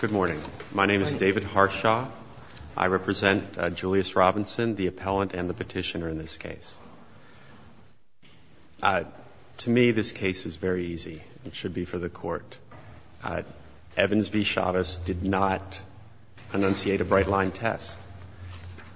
Good morning. My name is David Harshaw. I represent Julius Robinson, the appellant and the petitioner in this case. To me, this case is very easy. It should be for the court. Evans v. Chavez did not enunciate a bright-line test.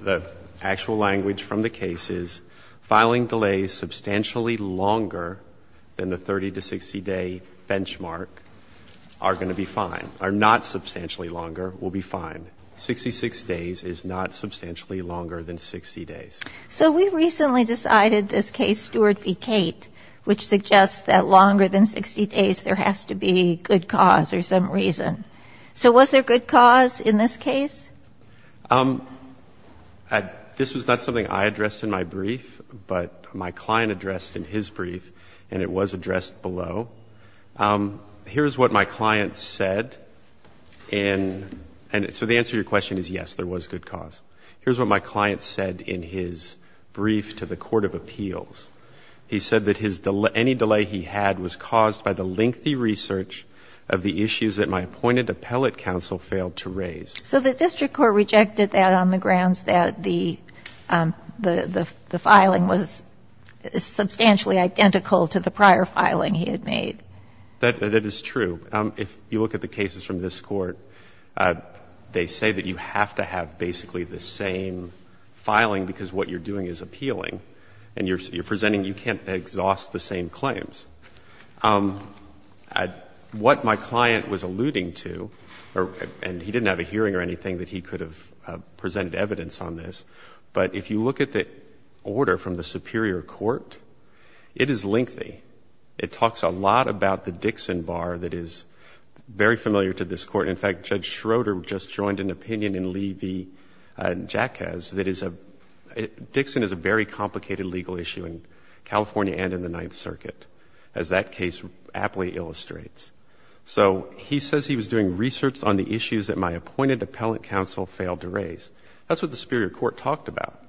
The actual language from the case is filing delays substantially longer than the 30-60 day benchmark are going to be fine, are not substantially longer, will be fine. 66 days is not substantially longer than 60 days. So we recently decided this case, Stewart v. Cate, which suggests that longer than 60 days there has to be good cause or some reason. So was there good cause in this case? This was not something I addressed in my brief, but my client addressed in his brief, and it was addressed below. Here's what my client said in — so the answer to your question is yes, there was good cause. Here's what my client said in his brief to the court of appeals. He said that his — any delay he had was caused by the lengthy research of the issues that my appointed appellate counsel failed to raise. So the district court rejected that on the grounds that the filing was substantially identical to the prior filing he had made. That is true. If you look at the cases from this court, they say that you have to have basically the same filing because what you're doing is appealing, and you're presenting you can't exhaust the same claims. What my client was alluding to, and he didn't have a hearing or anything that he could have presented evidence on this, but if you look at the order from the superior court, it is lengthy. It talks a lot about the Dixon Bar that is very familiar to this court. In fact, Judge Schroeder just joined an opinion in Lee v. Jacquez that is a — Dixon is a very complicated legal issue in California and in the Ninth Circuit, as that case aptly illustrates. So he says he was doing research on the issues that my appointed appellate counsel failed to raise. That's what the superior court talked about.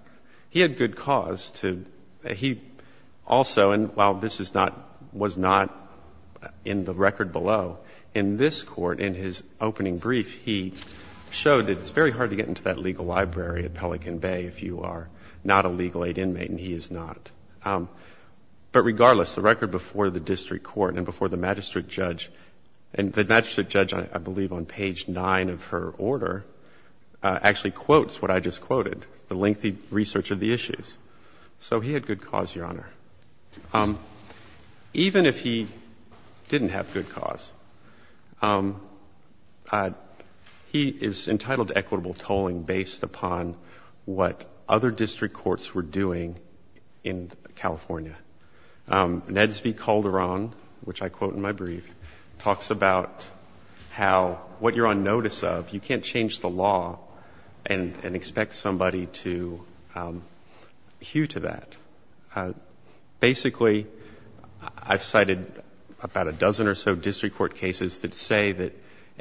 He had good cause to — he also, and while this is not — was not in the record below, in this court, in his opening brief, he showed that it's very hard to get into that legal library at Pelican Bay if you are not a legal aid inmate, and he is not. But regardless, the record before the district court and before the magistrate judge — and the magistrate judge, I believe, on page 9 of her order actually quotes what I just quoted, the lengthy research of the issues. So he had good cause, Your Honor. Even if he didn't have good cause, he is entitled to equitable tolling based upon what other district courts were doing in California. Neds V. Calderon, which I quote in my brief, talks about how what you're on notice of, you can't change the law and expect somebody to hew to that. Basically, I've cited about a dozen or so district court cases that say that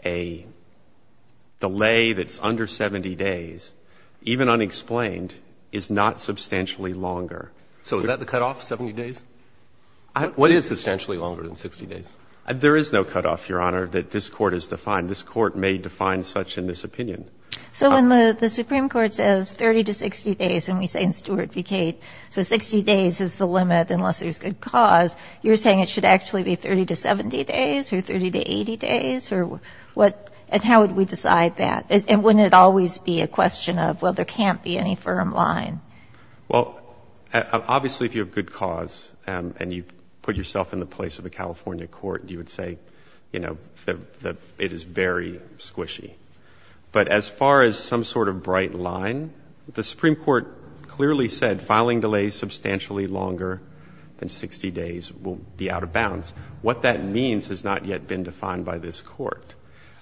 a delay that's under 70 days, even unexplained, is not substantially longer. So is that the cutoff, 70 days? It is substantially longer than 60 days. There is no cutoff, Your Honor, that this court has defined. This court may define such in this opinion. So when the Supreme Court says 30 to 60 days, and we say in Stuart v. Cate, so 60 days is the limit unless there's good cause, you're saying it should actually be 30 to 70 days or 30 to 80 days? Or what — and how would we decide that? And wouldn't it always be a question of, well, there can't be any firm line? Well, obviously, if you have good cause and you put yourself in the place of a California court, you would say, you know, that it is very squishy. But as far as some sort of bright line, the Supreme Court clearly said filing delays substantially longer than 60 days will be out of bounds. What that means has not yet been defined by this court.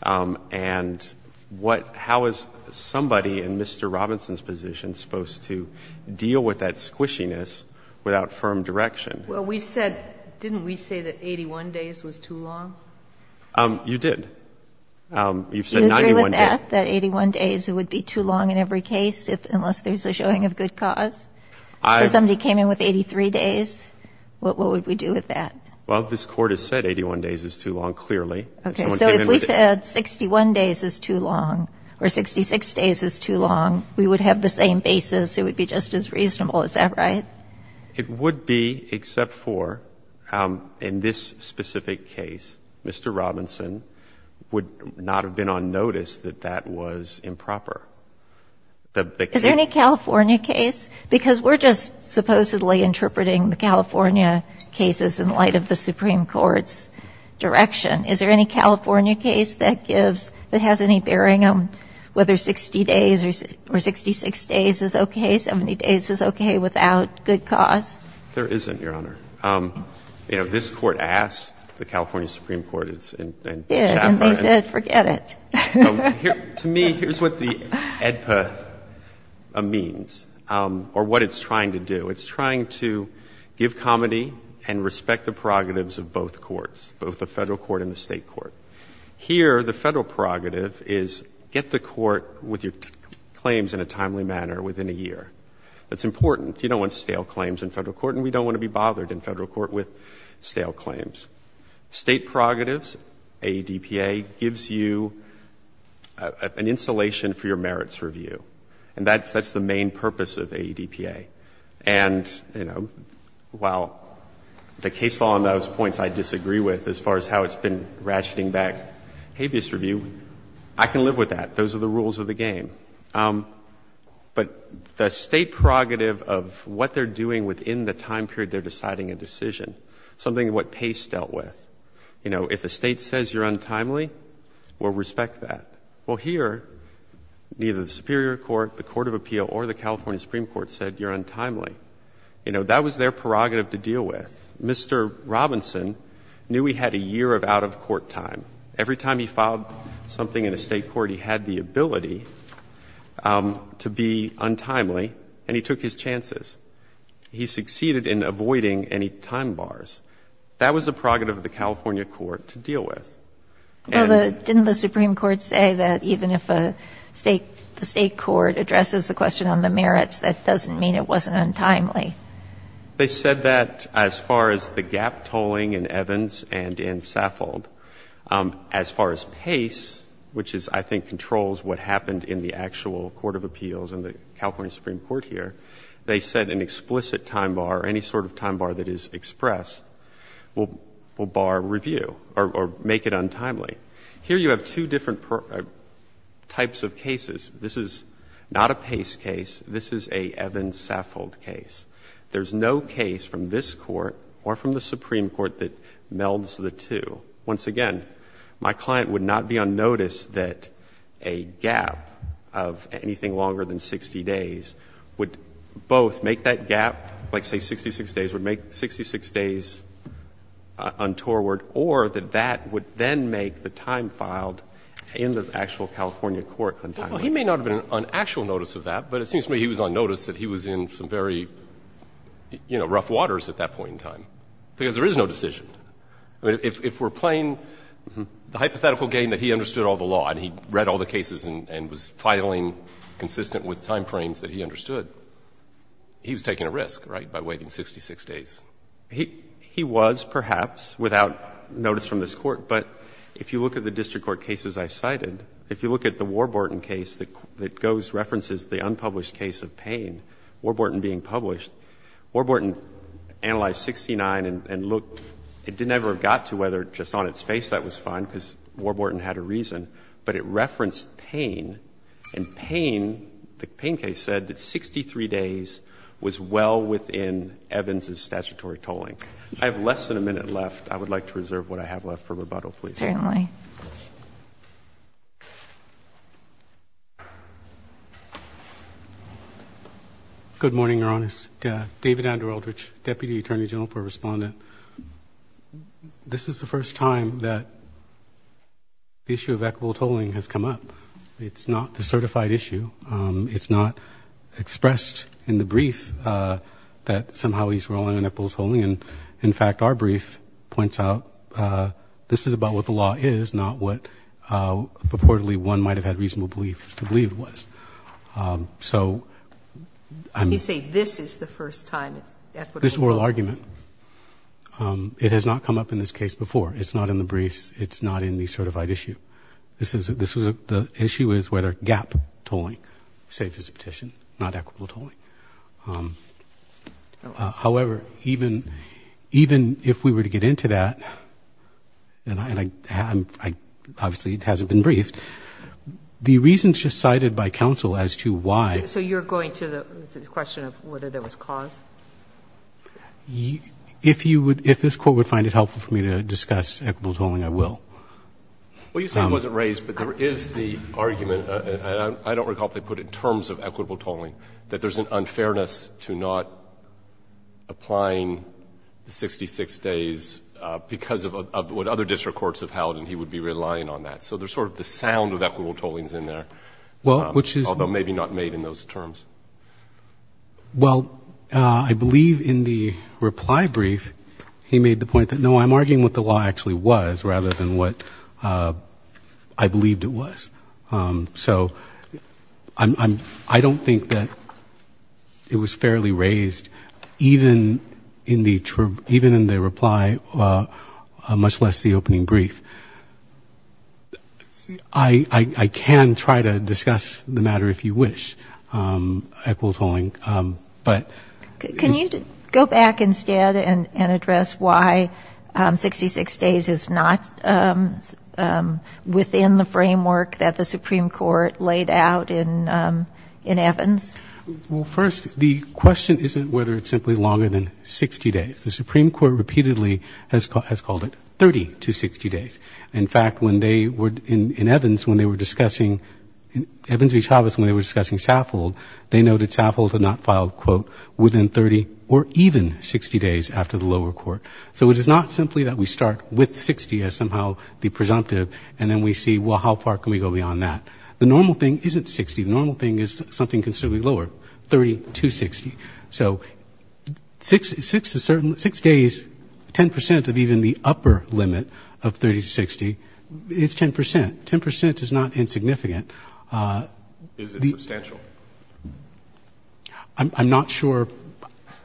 And what — how is somebody in Mr. Robinson's position supposed to deal with that squishiness without firm direction? Well, we said — didn't we say that 81 days was too long? You did. You've said 91 days. Do you agree with that, that 81 days would be too long in every case unless there's a showing of good cause? If somebody came in with 83 days, what would we do with that? Well, this Court has said 81 days is too long, clearly. Okay. So if we said 61 days is too long or 66 days is too long, we would have the same basis. It would be just as reasonable. Is that right? It would be, except for in this specific case, Mr. Robinson would not have been on notice that that was improper. Is there any California case? Because we're just supposedly interpreting the California cases in light of the Supreme Court's direction. Is there any California case that gives — that has any bearing on whether 60 days or 66 days is okay, 70 days is okay, without good cause? There isn't, Your Honor. You know, this Court asked the California Supreme Court, it's in — Yeah, and they said forget it. To me, here's what the AEDPA means, or what it's trying to do. It's trying to give comity and respect the prerogatives of both courts, both the Federal court and the State court. Here, the Federal prerogative is get to court with your claims in a timely manner within a year. That's important. You don't want stale claims in Federal court, and we don't want to be bothered in Federal court with stale claims. State prerogatives, AEDPA gives you an insulation for your merits review. And that's the main purpose of AEDPA. And, you know, while the case law on those points I disagree with as far as how it's been ratcheting back habeas review, I can live with that. Those are the rules of the game. But the State prerogative of what they're doing within the time period they're deciding a decision, something what Pace dealt with. You know, if the State says you're untimely, we'll respect that. Well, here, neither the Superior Court, the Court of Appeal, or the California Supreme Court said you're untimely. You know, that was their prerogative to deal with. Mr. Robinson knew he had a year of out-of-court time. Every time he filed something in a State court, he had the ability to be untimely, and he took his chances. He succeeded in avoiding any time bars. That was the prerogative of the California court to deal with. And the State court addresses the question on the merits, that doesn't mean it wasn't untimely. They said that as far as the gap tolling in Evans and in Saffold. As far as Pace, which is, I think, controls what happened in the actual Court of Appeals and the California Supreme Court here. They said an explicit time bar, any sort of time bar that is expressed, will bar review or make it untimely. Here you have two different types of cases. This is not a Pace case. This is a Evans-Saffold case. There's no case from this Court or from the Supreme Court that melds the two. Once again, my client would not be unnoticed that a gap of anything longer than 60 days would both make that gap, like, say, 66 days, would make 66 days untorward, or that that would then make the time filed in the actual California court untimely. Well, he may not have been on actual notice of that, but it seems to me he was unnoticed that he was in some very, you know, rough waters at that point in time, because there is no decision. I mean, if we're playing the hypothetical game that he understood all the law and he read all the cases and was filing consistent with timeframes that he understood, he was taking a risk, right, by waiting 66 days. He was, perhaps, without notice from this Court. But if you look at the district court cases I cited, if you look at the Warburton case that goes, references the unpublished case of Payne, Warburton being published, Warburton analyzed 69 and looked, it never got to whether just on its face that was fine, because Warburton had a reason, but it referenced Payne, and Payne, the Payne case said that 63 days was well within Evans' statutory tolling. I have less than a minute left. I would like to reserve what I have left for rebuttal, please. Certainly. Good morning, Your Honor. David Andrew Aldrich, Deputy Attorney General for Respondent. This is the first time that the issue of equitable tolling has come up. It's not the certified issue. It's not expressed in the brief that somehow he's rolling in equitable tolling. And, in fact, our brief points out this is about what the law is, not what purportedly one might have had reasonable belief to believe it was. So, I'm. You say this is the first time it's equitable tolling. This oral argument. It has not come up in this case before. It's not in the briefs. It's not in the certified issue. This is, this was, the issue is whether gap tolling, safe as a petition, not equitable tolling. However, even, even if we were to get into that, and I, and I, I, obviously it hasn't been briefed, the reasons just cited by counsel as to why. So you're going to the question of whether there was cause? If you would, if this Court would find it helpful for me to discuss equitable tolling, I will. Well, you say it wasn't raised, but there is the argument, and I don't recall if they put it in terms of equitable tolling, that there's an unfairness to not applying the 66 days because of what other district courts have held, and he would be relying on that. So there's sort of the sound of equitable tollings in there. Well, which is. Although maybe not made in those terms. Well, I believe in the reply brief, he made the point that, no, I'm arguing what the law actually was rather than what I believed it was. So I'm, I'm, I don't think that it was fairly raised, even in the, even in the reply, much less the opening brief. I, I, I can try to discuss the matter if you wish, equitable tolling, but. Can you go back instead and, and address why 66 days is not within the framework that the Supreme Court laid out in, in Evans? Well, first, the question isn't whether it's simply longer than 60 days. The Supreme Court repeatedly has called, has called it 30 to 60 days. In fact, when they were in, in Evans, when they were discussing, Evans v. Chavez, when they were discussing Saffold, they noted Saffold had not filed, quote, within 30 or even 60 days after the lower court. So it is not simply that we start with 60 as somehow the presumptive, and then we see, well, how far can we go beyond that? The normal thing isn't 60. The normal thing is something considerably lower, 30 to 60. So 6, 6 is certain, 6 days, 10% of even the upper limit of 30 to 60 is 10%. 10% is not insignificant. Is it substantial? I'm, I'm not sure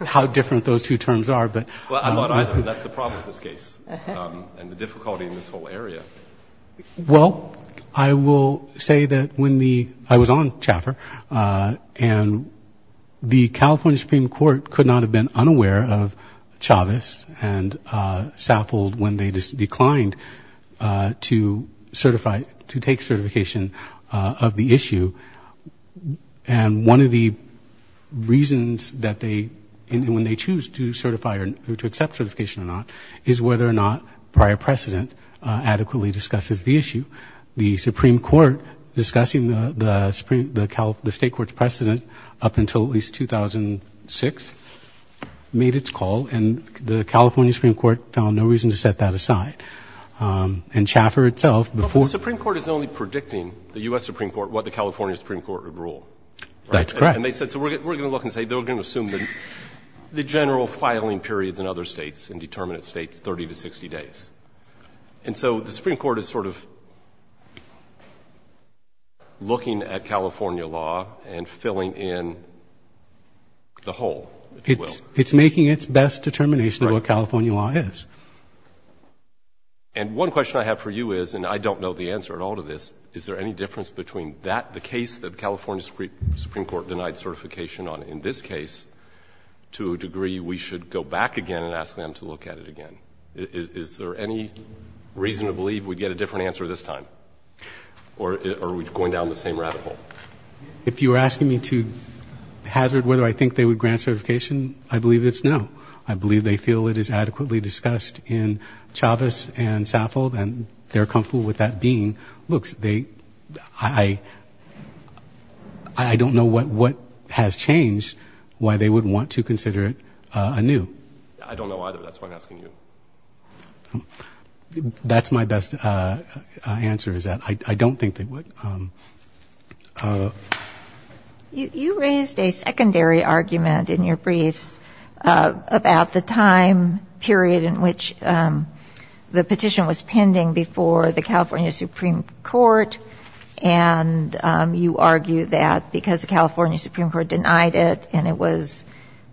how different those two terms are, but. Well, that's the problem with this case, and the difficulty in this whole area. Well, I will say that when the, I was on Chaffer, and the California Supreme Court could not have been unaware of Chavez and Saffold when they declined to certify, to take certification of the issue. And one of the reasons that they, when they choose to certify or to accept certification or not, is whether or not prior precedent adequately discusses the issue. The Supreme Court discussing the Supreme, the state court's precedent up until at least 2006 made its call, and the California Supreme Court found no reason to set that aside. And Chaffer itself, before. But the Supreme Court is only predicting, the U.S. Supreme Court, what the California Supreme Court would rule. That's correct. And they said, so we're going to look and say, they're going to assume the general filing periods in other states, in determinate states, 30 to 60 days. And so the Supreme Court is sort of looking at California law and filling in the hole, if you will. It's making its best determination of what California law is. And one question I have for you is, and I don't know the answer at all to this, is there any difference between that, the case that the California Supreme Court denied certification on, in this case, to a degree we should go back again and ask them to look at it again? Is there any reason to believe we'd get a different answer this time? Or are we going down the same rabbit hole? If you're asking me to hazard whether I think they would grant certification, I believe it's no. I believe they feel it is adequately discussed in Chavez and Saffold, and they're comfortable with that being. I don't know what has changed, why they would want to consider it anew. I don't know either. That's why I'm asking you. That's my best answer, is that I don't think they would. You raised a secondary argument in your briefs about the time period in which the petition was pending before the California Supreme Court. And you argue that because the California Supreme Court denied it, and it was,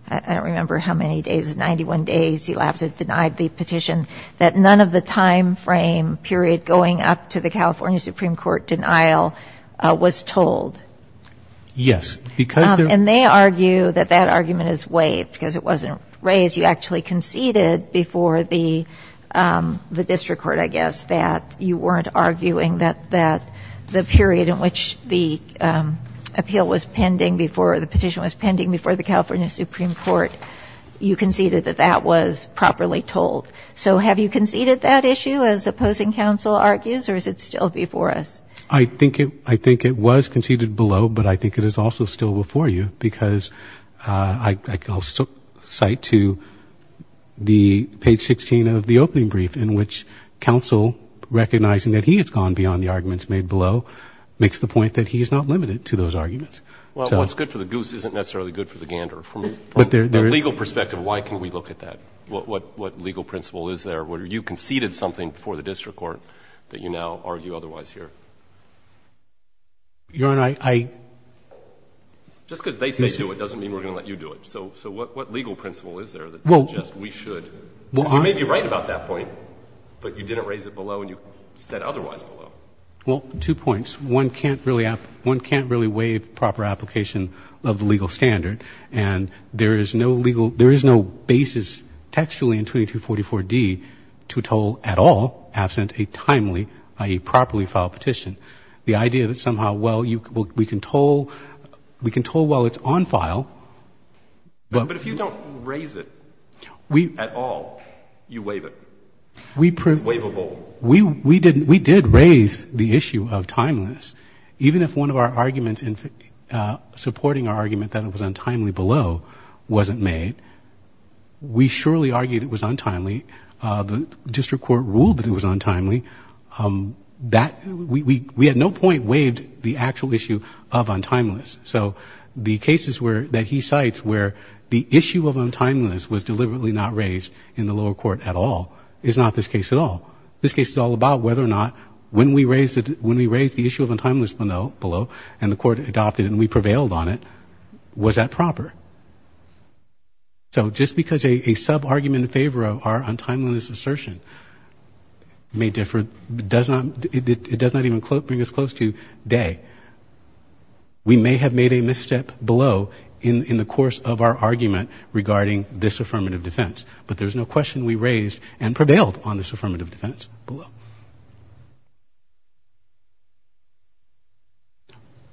I don't remember how many days, 91 days elapsed it denied the petition, that none of the time frame period going up to the California Supreme Court denial was told. Yes. And they argue that that argument is waived because it wasn't raised. You actually conceded before the district court, I guess, that you weren't arguing that the period in which the appeal was pending before, the petition was pending before the California Supreme Court, you conceded that that was properly told. So have you conceded that issue, as opposing counsel argues, or is it still before us? I think it was conceded below, but I think it is also still before you, because I the page 16 of the opening brief in which counsel, recognizing that he has gone beyond the arguments made below, makes the point that he is not limited to those arguments. Well, what's good for the goose isn't necessarily good for the gander. From a legal perspective, why can't we look at that? What legal principle is there where you conceded something before the district court that you now argue otherwise here? Your Honor, I... Just because they say so, it doesn't mean we're going to let you do it. So what legal principle is there that suggests we should? You may be right about that point, but you didn't raise it below and you said otherwise below. Well, two points. One can't really waive proper application of the legal standard, and there is no legal, there is no basis textually in 2244D to toll at all, absent a timely, i.e., properly filed petition. The idea that somehow, well, we can toll while it's on file. But if you don't raise it at all, you waive it. It's waivable. We did raise the issue of timeliness. Even if one of our arguments in supporting our argument that it was untimely below wasn't made, we surely argued it was untimely. The district court ruled that it was untimely. We at no point waived the actual issue of untimeliness. So the cases that he cites where the issue of untimeliness was deliberately not raised in the lower court at all is not this case at all. This case is all about whether or not when we raised the issue of untimeliness below and the court adopted it and we prevailed on it, was that proper? So just because a sub-argument in favor of our untimeliness assertion may differ, it does not even bring us close to day. We may have made a misstep below in the course of our argument regarding this affirmative defense. But there's no question we raised and prevailed on this affirmative defense below.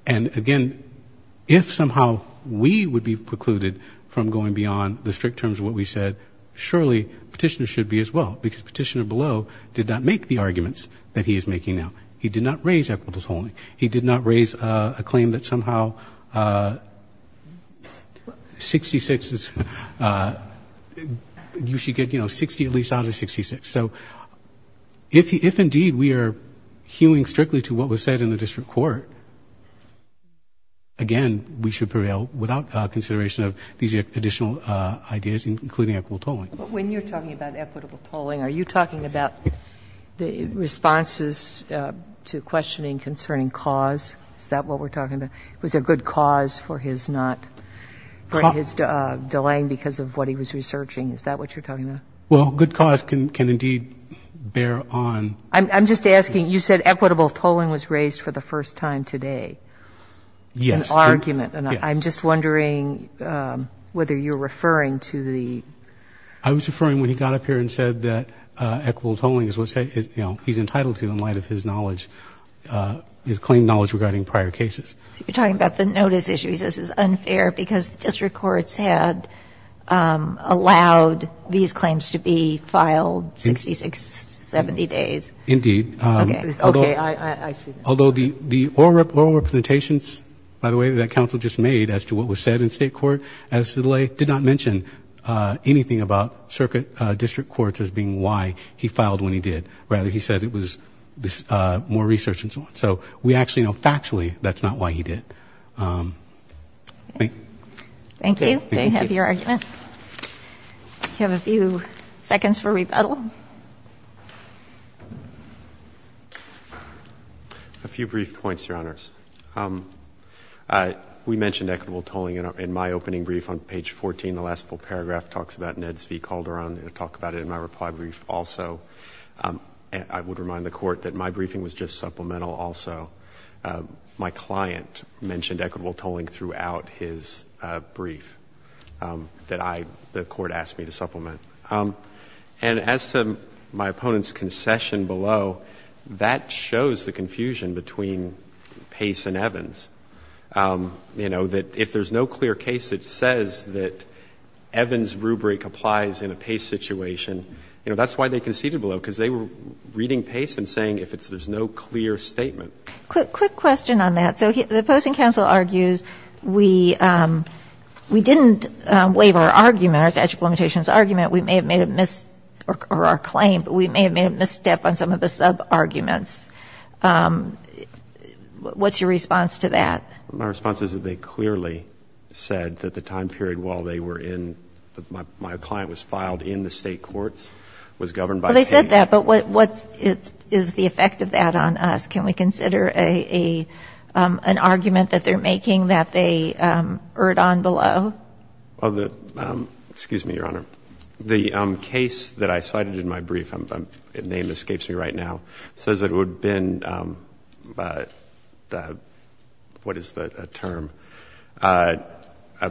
And, again, if somehow we would be precluded from going beyond the strict terms of what we said, surely Petitioner should be as well because Petitioner below did not make the arguments that he is making now. He did not raise equitable tolling. He did not raise a claim that somehow 66 is you should get, you know, 60 at least out of 66. So if indeed we are hewing strictly to what was said in the district court, again, we should prevail without consideration of these additional ideas, including equitable tolling. But when you're talking about equitable tolling, are you talking about the responses to questioning concerning cause? Is that what we're talking about? Was there good cause for his not, for his delaying because of what he was researching? Is that what you're talking about? Well, good cause can indeed bear on. I'm just asking. You said equitable tolling was raised for the first time today. Yes. An argument. And I'm just wondering whether you're referring to the. I was referring when he got up here and said that equitable tolling is what, you know, he's entitled to in light of his knowledge, his claim knowledge regarding prior cases. You're talking about the notice issue. because district courts had allowed these claims to be filed 66, 70 days. Indeed. Okay. Okay. I see. Although the oral representations, by the way, that counsel just made as to what was said in state court as to delay, did not mention anything about circuit district courts as being why he filed when he did. Rather, he said it was more research and so on. So we actually know factually that's not why he did. Thank you. They have your argument. You have a few seconds for rebuttal. A few brief points, Your Honors. We mentioned equitable tolling in my opening brief on page 14. The last full paragraph talks about NEDS v. Calderon. We'll talk about it in my reply brief also. I would remind the Court that my briefing was just supplemental also. My client mentioned equitable tolling throughout his brief that I, the Court asked me to supplement. And as to my opponent's concession below, that shows the confusion between Pace and Evans, you know, that if there's no clear case that says that Evans' rubric applies in a Pace situation, you know, that's why they conceded below, because they were reading Pace and saying if there's no clear statement. Quick question on that. So the opposing counsel argues we didn't waive our argument, our statute of limitations argument. We may have made a mis- or our claim, but we may have made a misstep on some of the sub-arguments. What's your response to that? My response is that they clearly said that the time period while they were in, my client was filed in the State courts, was governed by Pace. Well, they said that, but what is the effect of that on us? Can we consider an argument that they're making that they erred on below? Excuse me, Your Honor. The case that I cited in my brief, the name escapes me right now, says that it would have been, what is the term,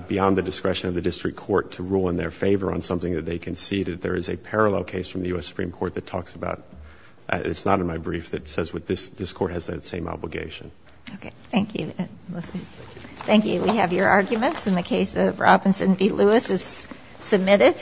beyond the discretion of the district court to rule in their favor on something that they conceded. There is a parallel case from the U.S. Supreme Court that talks about, it's not in my brief, that says this court has that same obligation. Okay. Thank you. Thank you. We have your arguments in the case of Robinson v. Lewis is submitted.